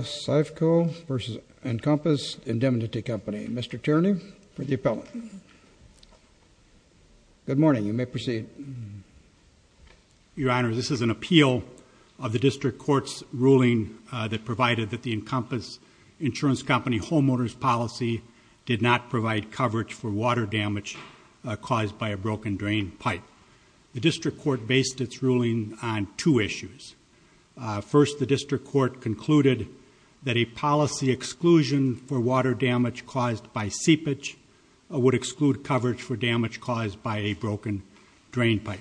Syfco v. Encompass Indemnity Company. Mr. Tierney for the appellate. Good morning, you may proceed. Your Honor, this is an appeal of the District Court's ruling that provided that the Encompass Insurance Company homeowners policy did not provide coverage for water damage caused by a broken drain pipe. The District Court based its ruling on two issues. First, the District Court concluded that a policy exclusion for water damage caused by seepage would exclude coverage for damage caused by a broken drain pipe.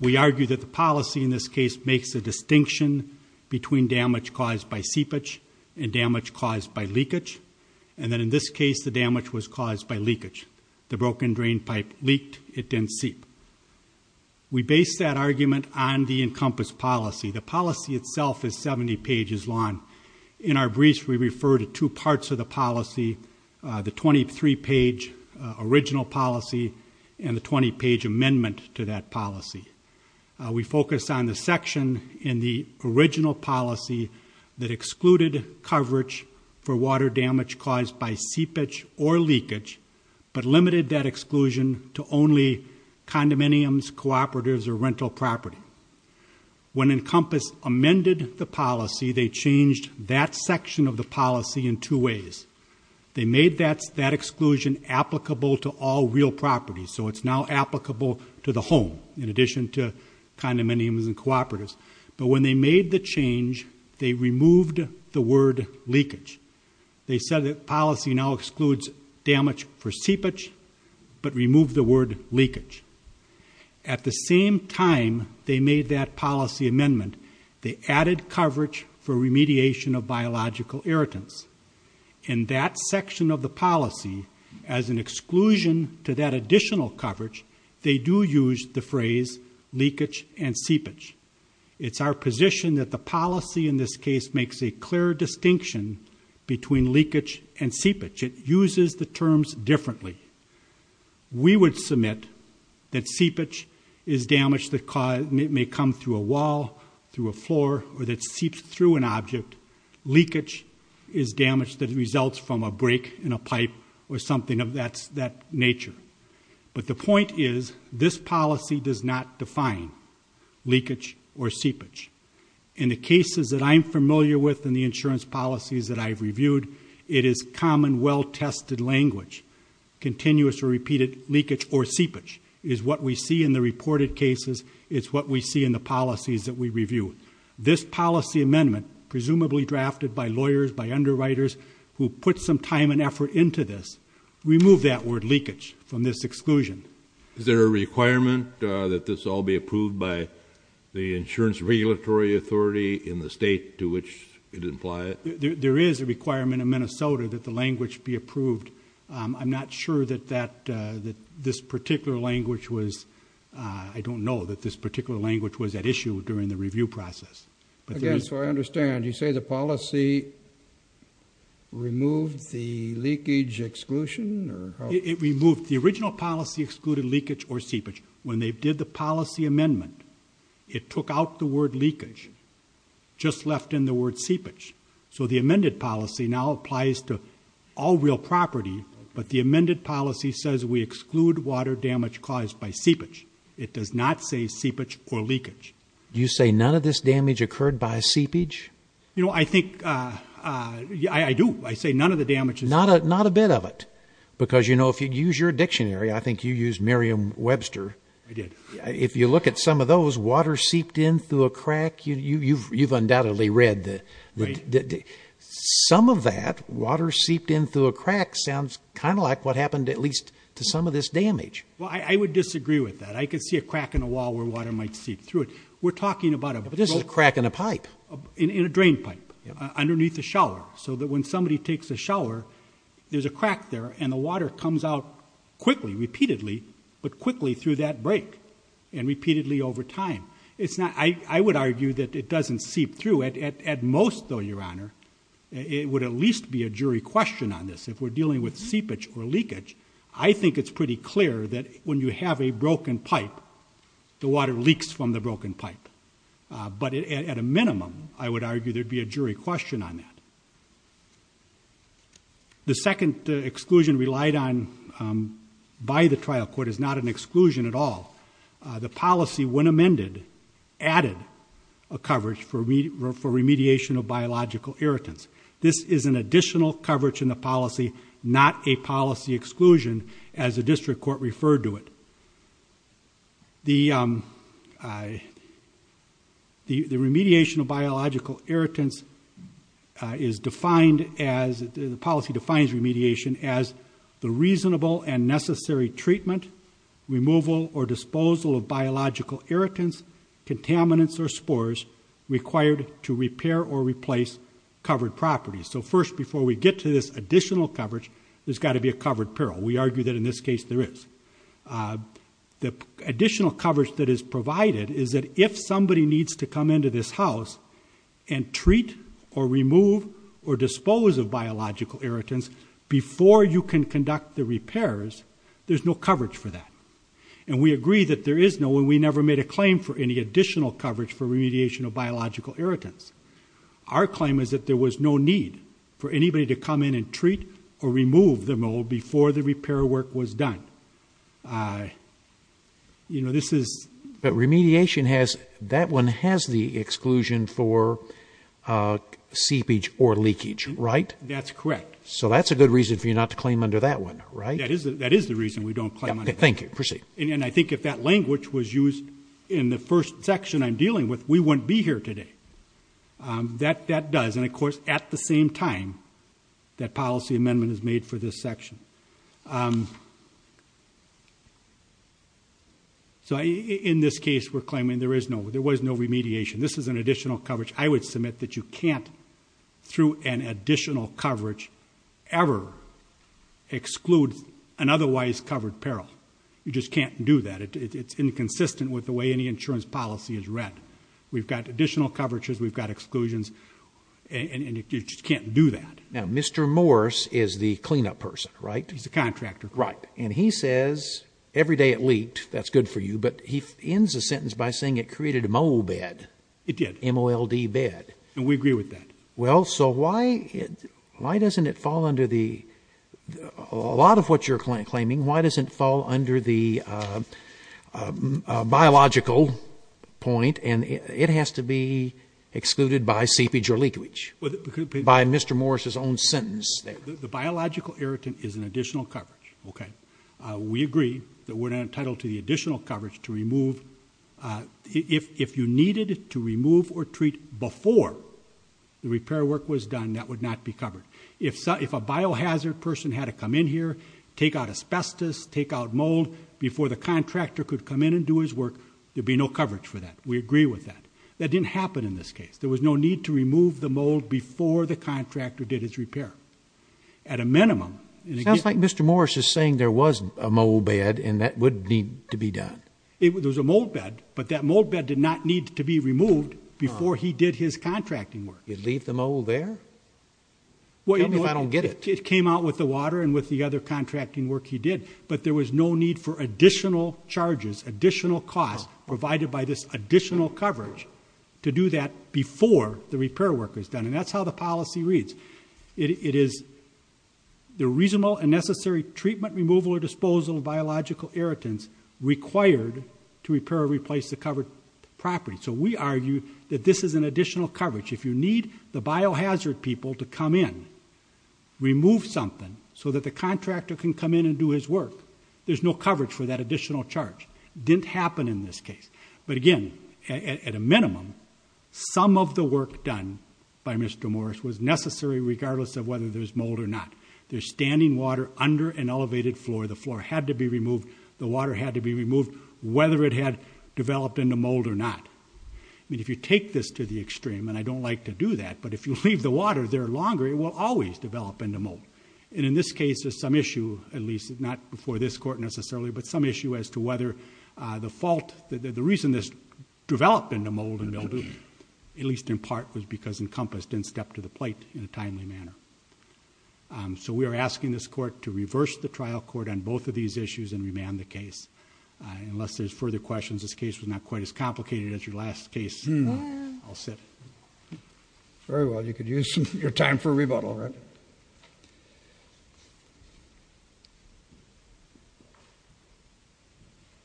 We argue that the policy in this case makes a distinction between damage caused by seepage and damage caused by leakage, and that in this case the damage was caused by leakage. The broken drain pipe leaked, it didn't seep. We base that argument on the 70 pages long. In our briefs, we refer to two parts of the policy, the 23-page original policy and the 20-page amendment to that policy. We focus on the section in the original policy that excluded coverage for water damage caused by seepage or leakage, but limited that exclusion to only condominiums, cooperatives, or rental property. When Encompass amended the policy, they changed that section of the policy in two ways. They made that exclusion applicable to all real property, so it's now applicable to the home in addition to condominiums and cooperatives, but when they made the change, they removed the word leakage. They said that policy now excludes damage for seepage, but at the same time they made that policy amendment, they added coverage for remediation of biological irritants. In that section of the policy, as an exclusion to that additional coverage, they do use the phrase leakage and seepage. It's our position that the policy in this case makes a clear distinction between leakage and seepage. It uses the terms differently. We would submit that seepage is damage that may come through a wall, through a floor, or that seeps through an object. Leakage is damage that results from a break in a pipe or something of that nature, but the point is this policy does not define leakage or seepage. In the cases that I'm familiar with in the insurance policies that I've reviewed, it is common well-tested language. Continuous or seepage is what we see in the reported cases. It's what we see in the policies that we review. This policy amendment, presumably drafted by lawyers, by underwriters, who put some time and effort into this, removed that word leakage from this exclusion. Is there a requirement that this all be approved by the Insurance Regulatory Authority in the state to which it implies it? There is a requirement in Minnesota that the language be approved. I'm not sure that this particular language was, I don't know that this particular language was at issue during the review process. Again, so I understand, you say the policy removed the leakage exclusion? It removed, the original policy excluded leakage or seepage. When they did the policy amendment, it took out the word leakage, just left in the word seepage. So the amended policy now applies to all real property, but the amended policy says we exclude water damage caused by seepage. It does not say seepage or leakage. You say none of this damage occurred by seepage? You know, I think, yeah, I do. I say none of the damage. Not a, not a bit of it, because you know, if you use your dictionary, I think you use Miriam Webster. I did. If you look at some of those, water seeped in through a crack, you, you've, you've undoubtedly read that. Right. Some of that, water seeped in through a crack sounds kind of like what happened at least to some of this damage. Well, I, I would disagree with that. I could see a crack in a wall where water might seep through it. We're talking about a... But this is a crack in a pipe. In, in a drain pipe, underneath the shower, so that when somebody takes a shower, there's a crack there and the water comes out quickly, repeatedly, but quickly through that break and repeatedly over time. It's not, I, I would argue that it doesn't seep through. At, at, at most though, your honor, it would at least be a jury question on this. If we're dealing with seepage or leakage, I think it's pretty clear that when you have a broken pipe, the water leaks from the broken pipe. But at a minimum, I would argue there'd be a jury question on that. The second exclusion relied on by the trial court is not an exclusion at all. The policy, when amended, added a coverage for remediation of biological irritants, contaminants, or spores required to repair or replace covered properties. So first, before we go to the next slide, I'd like to say that the remediation of biological irritants is defined as, the policy defines remediation as the reasonable and necessary treatment, removal, or disposal of biological irritants, contaminants, or spores required to repair or replace covered properties. So first, before we get to this additional coverage, there's got to be a covered peril. We argue that in this case, there is. The additional coverage that is provided is that if somebody needs to come into this house and treat or remove or dispose of biological irritants before you can conduct the repairs, there's no coverage for that. And we agree that there is no, and we never made a claim for any additional coverage for remediation of biological irritants. There was no need for anybody to come in and treat or remove the mold before the repair work was done. You know, this is... But remediation has, that one has the exclusion for seepage or leakage, right? That's correct. So that's a good reason for you not to claim under that one, right? That is the reason we don't claim under that one. Thank you. Proceed. And I think if that language was used in the first section I'm dealing with, we wouldn't be here today. That does. And of course, at the same time, that policy amendment is made for this section. So in this case, we're claiming there is no, there was no remediation. This is an additional coverage. I would submit that you can't, through an additional coverage, ever exclude an otherwise covered peril. You just can't do that. It's inconsistent with the way any insurance policy is designed. We've got additional coverages, we've got exclusions, and you just can't do that. Now, Mr. Morse is the cleanup person, right? He's the contractor. Right. And he says, every day it leaked, that's good for you, but he ends the sentence by saying it created a mold bed. It did. M-O-L-D bed. And we agree with that. Well, so why, why doesn't it fall under the, a lot of what you're claiming, why doesn't it fall under the biological point, and it has to be excluded by seepage or leakage? By Mr. Morse's own sentence there. The biological irritant is an additional coverage, okay? We agree that we're not entitled to the additional coverage to remove, if you needed to remove or treat before the repair work was done, that would not be covered. If a biohazard person had to come in here, take out asbestos, take out mold, before the contractor could come in and do his work, there'd be no coverage for that. We agree with that. That didn't happen in this case. There was no need to remove the mold before the contractor did his repair, at a minimum. It sounds like Mr. Morse is saying there was a mold bed, and that would need to be done. It was a mold bed, but that mold bed did not need to be removed before he did his contracting work. You'd leave the mold there? Even if I don't get it. It came out with the water and with the other contracting work he did, but there was no need for additional charges, additional costs provided by this additional coverage to do that before the repair work was done. And that's how the policy reads. It is the reasonable and necessary treatment, removal, or disposal of biological irritants required to repair or replace the covered property. So we argue that this is an additional coverage. If you need the biohazard people to come in, remove something, so that the contractor can come in and do his work, there's no coverage for that additional charge. Didn't happen in this case. But again, at a minimum, some of the work done by Mr. Morse was necessary regardless of whether there's mold or not. There's standing water under an elevated floor. The floor had to be removed. The water had to be removed, whether it had developed into mold or not. I mean, if you take this to the extreme, and I don't like to do that, but if you leave the water there longer, it will always develop into mold. And in this case, there's some issue, at least not before this court necessarily, but some issue as to whether the fault, the reason this developed into mold and mildew, at least in part, was because Encompass didn't step to the plate in a timely manner. So we are asking this court to reverse the trial court on both of these issues and remand the case. Unless there's further questions, this case was not quite as complicated as your last case. I'll sit. Very well, you could use your time for a rebuttal, right?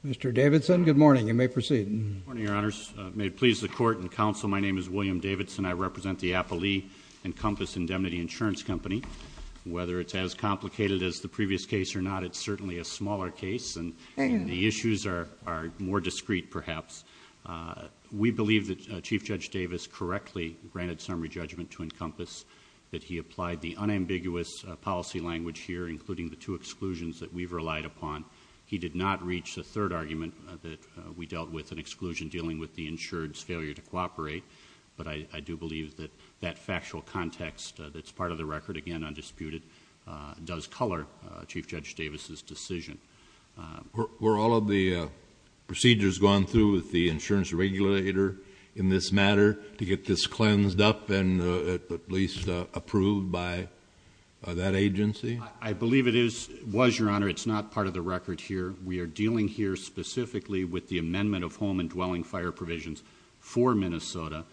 Mr. Davidson, good morning. You may proceed. Good morning, your honors. May it please the court and counsel, my name is William Davidson. I represent the Appalee Encompass Indemnity Insurance Company. Whether it's as complicated as the previous case or not, it's certainly a smaller case, and the issues are more discreet, perhaps. We believe that Chief Judge Davis correctly granted summary judgment to Encompass, that he applied the unambiguous policy language here, including the two exclusions that we've relied upon. He did not reach the third argument that we dealt with, an exclusion dealing with the insured's failure to cooperate. But I do believe that that factual context that's part of the record, again, undisputed, does color Chief Judge Davis' decision. Were all of the procedures gone through with the insurance regulator in this matter to get this cleansed up and at least approved by that agency? I believe it was, your honor. It's not part of the record here. We are dealing here specifically with the amendment of home and dwelling fire provisions for Minnesota.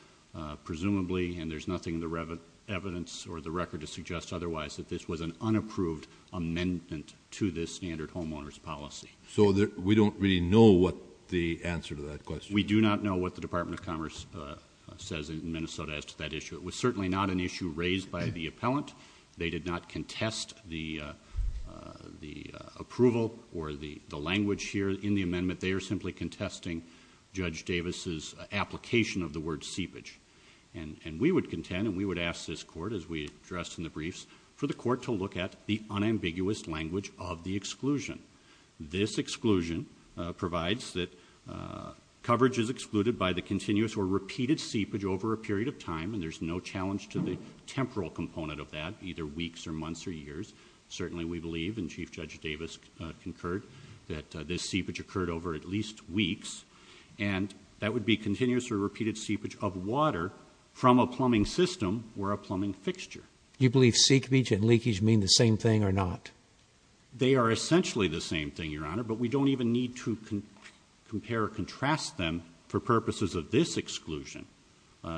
Presumably, and there's nothing in the evidence or the record to suggest otherwise, that this was an unapproved amendment to this standard homeowner's policy. So we don't really know what the answer to that question is. We do not know what the Department of Commerce says in Minnesota as to that issue. It was certainly not an issue raised by the appellant. They did not contest the approval or the language here in the amendment. They are simply contesting Judge Davis' application of the word seepage. And we would contend, and we would ask this court, as we addressed in the briefs, for the court to look at the unambiguous language of the exclusion. This exclusion provides that coverage is excluded by the continuous or repeated seepage of water from a plumbing system or a plumbing fixture. You believe seepage and leakage mean the same thing or not? They are essentially the same thing, your honor, but we don't even need to compare or contrast them for purposes of this exclusion.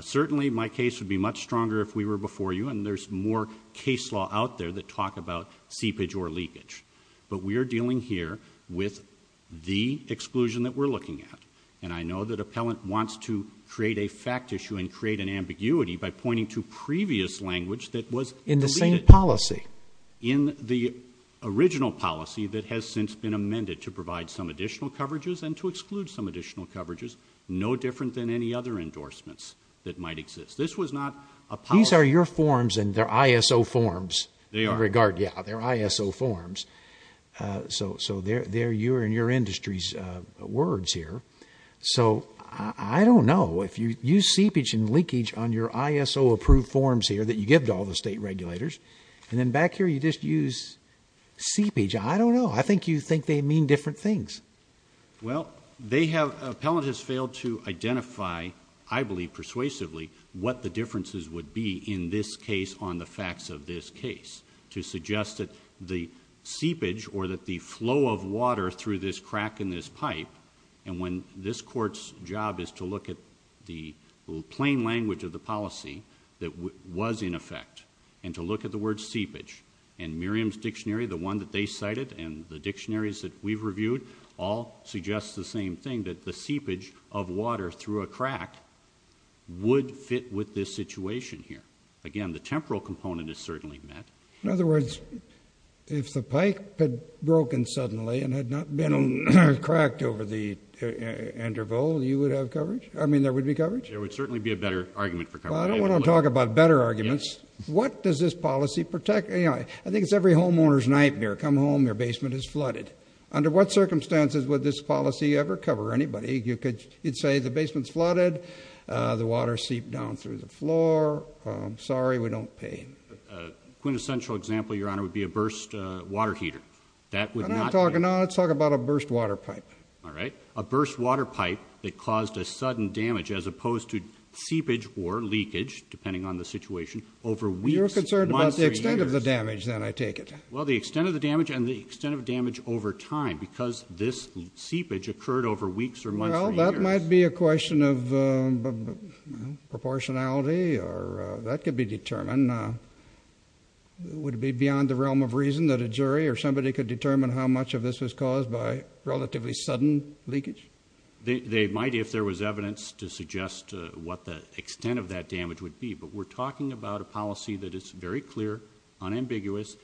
Certainly, my case would be much stronger if we were before you, and there's more case law out there that talk about seepage or leakage. But we are dealing here with the exclusion that we're looking at. And I know that appellant wants to create a fact issue and create an ambiguity by pointing to previous language that was- In the same policy. In the original policy that has since been amended to provide some additional coverages and to exclude some additional coverages, no different than any other endorsements that might exist. This was not a policy- These are your forms and they're ISO forms. They are. In regard, yeah, they're ISO forms. So they're your and your industry's words here. So I don't know. If you use seepage and leakage on your ISO approved forms here that you give to all the state regulators, and then back here you just use seepage, I don't know. I think you think they mean different things. Well, they have, appellant has failed to identify, I believe persuasively, what the differences would be in this case on the facts of this case. To suggest that the seepage or that the flow of water through this crack in this pipe, and when this court's job is to look at the plain language of the policy that was in effect. And to look at the word seepage. And Miriam's dictionary, the one that they cited, and the dictionaries that we've reviewed, all suggest the same thing, that the seepage of water through a crack would fit with this situation here. Again, the temporal component is certainly met. In other words, if the pipe had broken suddenly and had not been cracked over the interval, you would have coverage? I mean, there would be coverage? There would certainly be a better argument for coverage. Well, I don't want to talk about better arguments. What does this policy protect? I think it's every homeowner's nightmare. Come home, your basement is flooded. Under what circumstances would this policy ever cover anybody? You could say the basement's flooded, the water seeped down through the floor, I'm sorry, we don't pay. Quintessential example, Your Honor, would be a burst water heater. That would not- I'm not talking, no, let's talk about a burst water pipe. All right, a burst water pipe that caused a sudden damage, as opposed to seepage or leakage, depending on the situation, over weeks, months, or years. You're concerned about the extent of the damage, then, I take it? Well, the extent of the damage and the extent of damage over time, because this seepage occurred over weeks or months or years. Well, that might be a question of proportionality, or that could be determined. And would it be beyond the realm of reason that a jury or somebody could determine how much of this was caused by relatively sudden leakage? They might, if there was evidence to suggest what the extent of that damage would be. But we're talking about a policy that is very clear, unambiguous.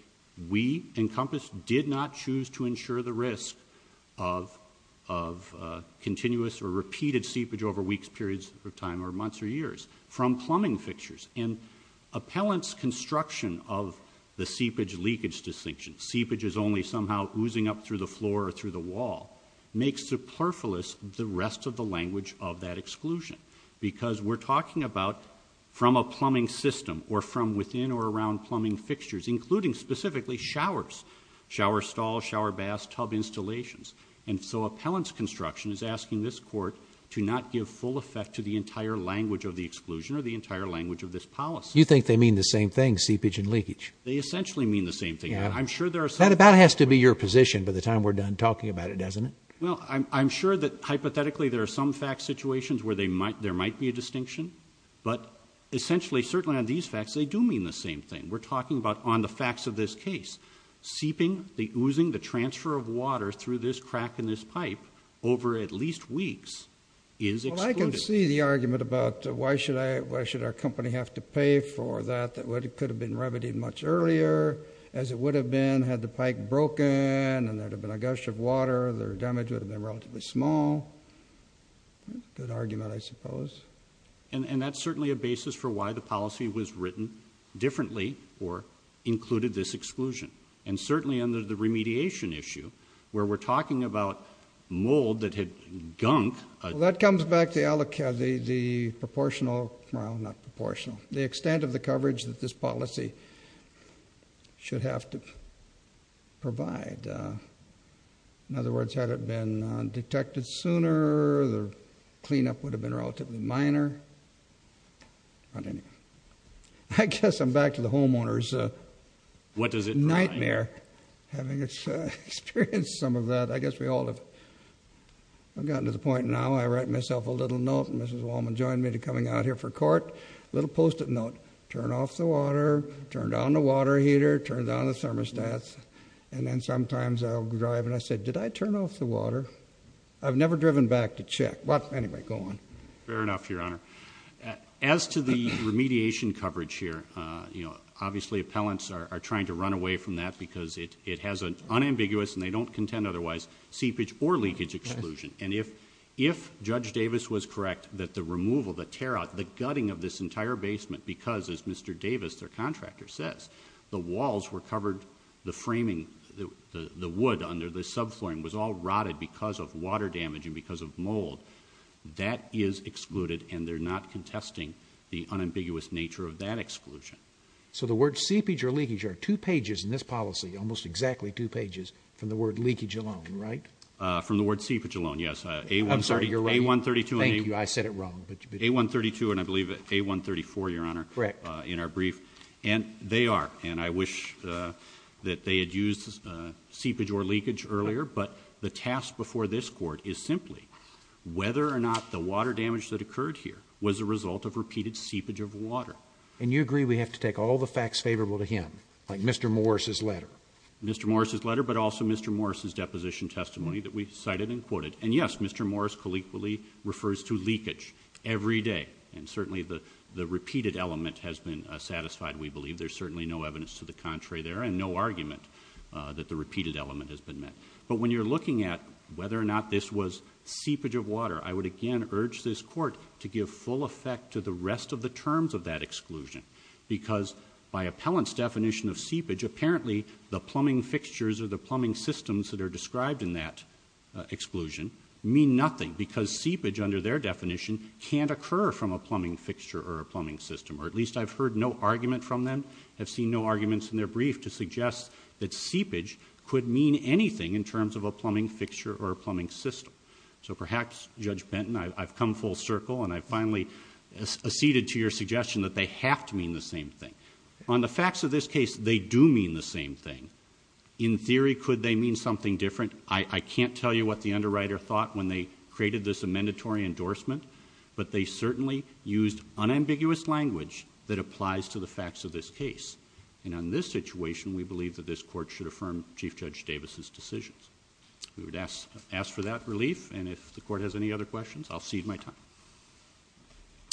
We, Encompass, did not choose to ensure the risk of continuous or repeated seepage over weeks, periods of time, or months, or years from plumbing fixtures. And appellant's construction of the seepage-leakage distinction, seepage is only somehow oozing up through the floor or through the wall, makes superfluous the rest of the language of that exclusion. Because we're talking about from a plumbing system, or from within or around plumbing fixtures, including specifically showers, shower stalls, shower baths, tub installations. And so appellant's construction is asking this court to not give full effect to the entire language of the exclusion, or the entire language of this policy. You think they mean the same thing, seepage and leakage? They essentially mean the same thing. I'm sure there are some- That about has to be your position by the time we're done talking about it, doesn't it? Well, I'm sure that hypothetically there are some fact situations where there might be a distinction. But essentially, certainly on these facts, they do mean the same thing. We're talking about on the facts of this case. Seeping, the oozing, the transfer of water through this crack in this pipe over at least weeks is excluded. I see the argument about why should our company have to pay for that? That it could have been remedied much earlier as it would have been had the pipe broken and there'd have been a gush of water, their damage would have been relatively small. Good argument, I suppose. And that's certainly a basis for why the policy was written differently, or included this exclusion. And certainly under the remediation issue, where we're talking about mold that had gunk. Well, that comes back to the extent of the coverage that this policy should have to provide. In other words, had it been detected sooner, the cleanup would have been relatively minor. I guess I'm back to the homeowner's nightmare having experienced some of that. I guess we all have gotten to the point now, I write myself a little note, and Mrs. Wallman joined me to coming out here for court, little post-it note. Turn off the water, turn down the water heater, turn down the thermostats. And then sometimes I'll drive and I say, did I turn off the water? I've never driven back to check. But anyway, go on. Fair enough, your honor. As to the remediation coverage here, obviously appellants are trying to run away from that because it has an unambiguous, and they don't contend otherwise, seepage or leakage exclusion. And if Judge Davis was correct that the removal, the tear out, the gutting of this entire basement, because as Mr. Davis, their contractor, says, the walls were covered, the framing, the wood under the sub-flooring was all rotted because of water damage and because of mold. That is excluded and they're not contesting the unambiguous nature of that exclusion. So the word seepage or leakage are two pages in this policy, almost exactly two pages from the word leakage alone, right? From the word seepage alone, yes. A-132. Thank you, I said it wrong. A-132 and I believe A-134, your honor, in our brief. And they are, and I wish that they had used seepage or leakage earlier. But the task before this court is simply whether or not the water damage that occurred here was a result of repeated seepage of water. And you agree we have to take all the facts favorable to him, like Mr. Morris' letter. Mr. Morris' letter, but also Mr. Morris' deposition testimony that we cited and quoted. And yes, Mr. Morris colloquially refers to leakage every day. And certainly the repeated element has been satisfied, we believe. There's certainly no evidence to the contrary there, and no argument that the repeated element has been met. But when you're looking at whether or not this was seepage of water, I would again urge this court to give full effect to the rest of the terms of that exclusion. Because by appellant's definition of seepage, apparently the plumbing fixtures or the plumbing systems that are described in that exclusion mean nothing. Because seepage under their definition can't occur from a plumbing fixture or a plumbing system. Or at least I've heard no argument from them, have seen no arguments in their brief to suggest that seepage could mean anything in terms of a plumbing fixture or a plumbing system. So perhaps, Judge Benton, I've come full circle, and I finally acceded to your suggestion that they have to mean the same thing. On the facts of this case, they do mean the same thing. In theory, could they mean something different? I can't tell you what the underwriter thought when they created this amendatory endorsement. But they certainly used unambiguous language that applies to the facts of this case. And on this situation, we believe that this court should affirm Chief Judge Davis' decisions. We would ask for that relief, and if the court has any other questions, I'll cede my time.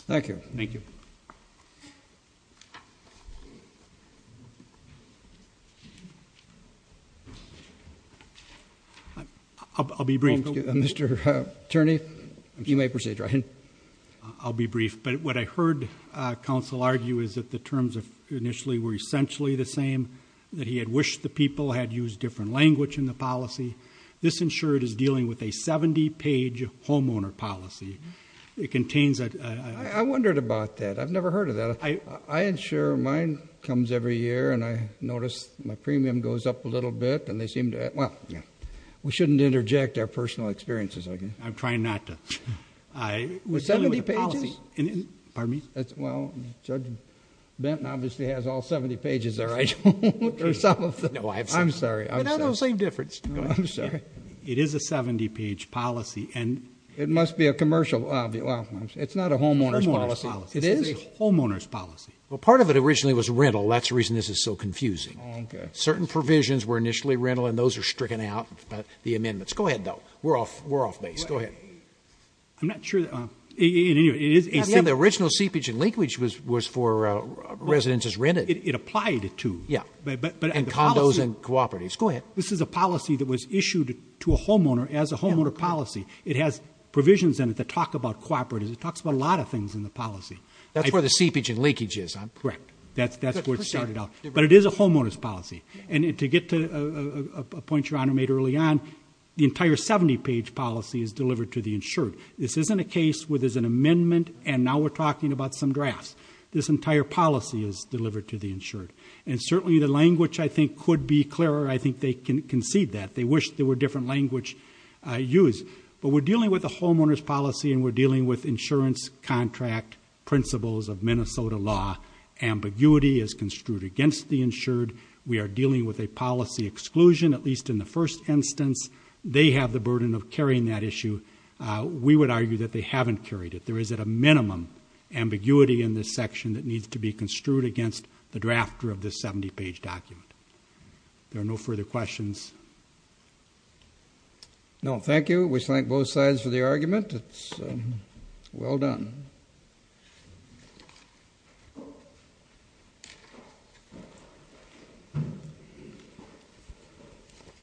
Thank you. Thank you. I'll be brief. Mr. Attorney, you may proceed, Ryan. I'll be brief, but what I heard counsel argue is that the terms initially were essentially the same. That he had wished the people had used different language in the policy. This insured is dealing with a 70 page homeowner policy. It contains a- I wondered about that. I've never heard of that. I insure mine comes every year, and I notice my premium goes up a little bit. And they seem to, well, we shouldn't interject our personal experiences, okay? I'm trying not to. I was dealing with a policy. With 70 pages? Pardon me? Well, Judge Benton obviously has all 70 pages there. I don't want to do some of the- No, I'm sorry. I'm sorry. No, no, same difference. I'm sorry. It is a 70 page policy, and- It must be a commercial, well, it's not a homeowner's policy. It is? Homeowner's policy. Well, part of it originally was rental. That's the reason this is so confusing. Certain provisions were initially rental, and those are stricken out, the amendments. Go ahead, though. We're off base. Go ahead. I'm not sure that- Yeah, the original seepage and leakage was for residences rented. It applied it to. Yeah, and condos and cooperatives. Go ahead. This is a policy that was issued to a homeowner as a homeowner policy. It has provisions in it that talk about cooperatives. It talks about a lot of things in the policy. That's where the seepage and leakage is. Correct. That's where it started out. But it is a homeowner's policy. And to get to a point your honor made early on, the entire 70 page policy is delivered to the insured. This isn't a case where there's an amendment and now we're talking about some drafts. This entire policy is delivered to the insured. And certainly the language I think could be clearer. I think they can concede that. They wish there were different language used. But we're dealing with a homeowner's policy and we're dealing with insurance contract principles of Minnesota law. Ambiguity is construed against the insured. We are dealing with a policy exclusion, at least in the first instance. They have the burden of carrying that issue. We would argue that they haven't carried it. There is at a minimum ambiguity in this section that needs to be construed against the drafter of this 70 page document. There are no further questions. No, thank you. We thank both sides for the argument. It's well done.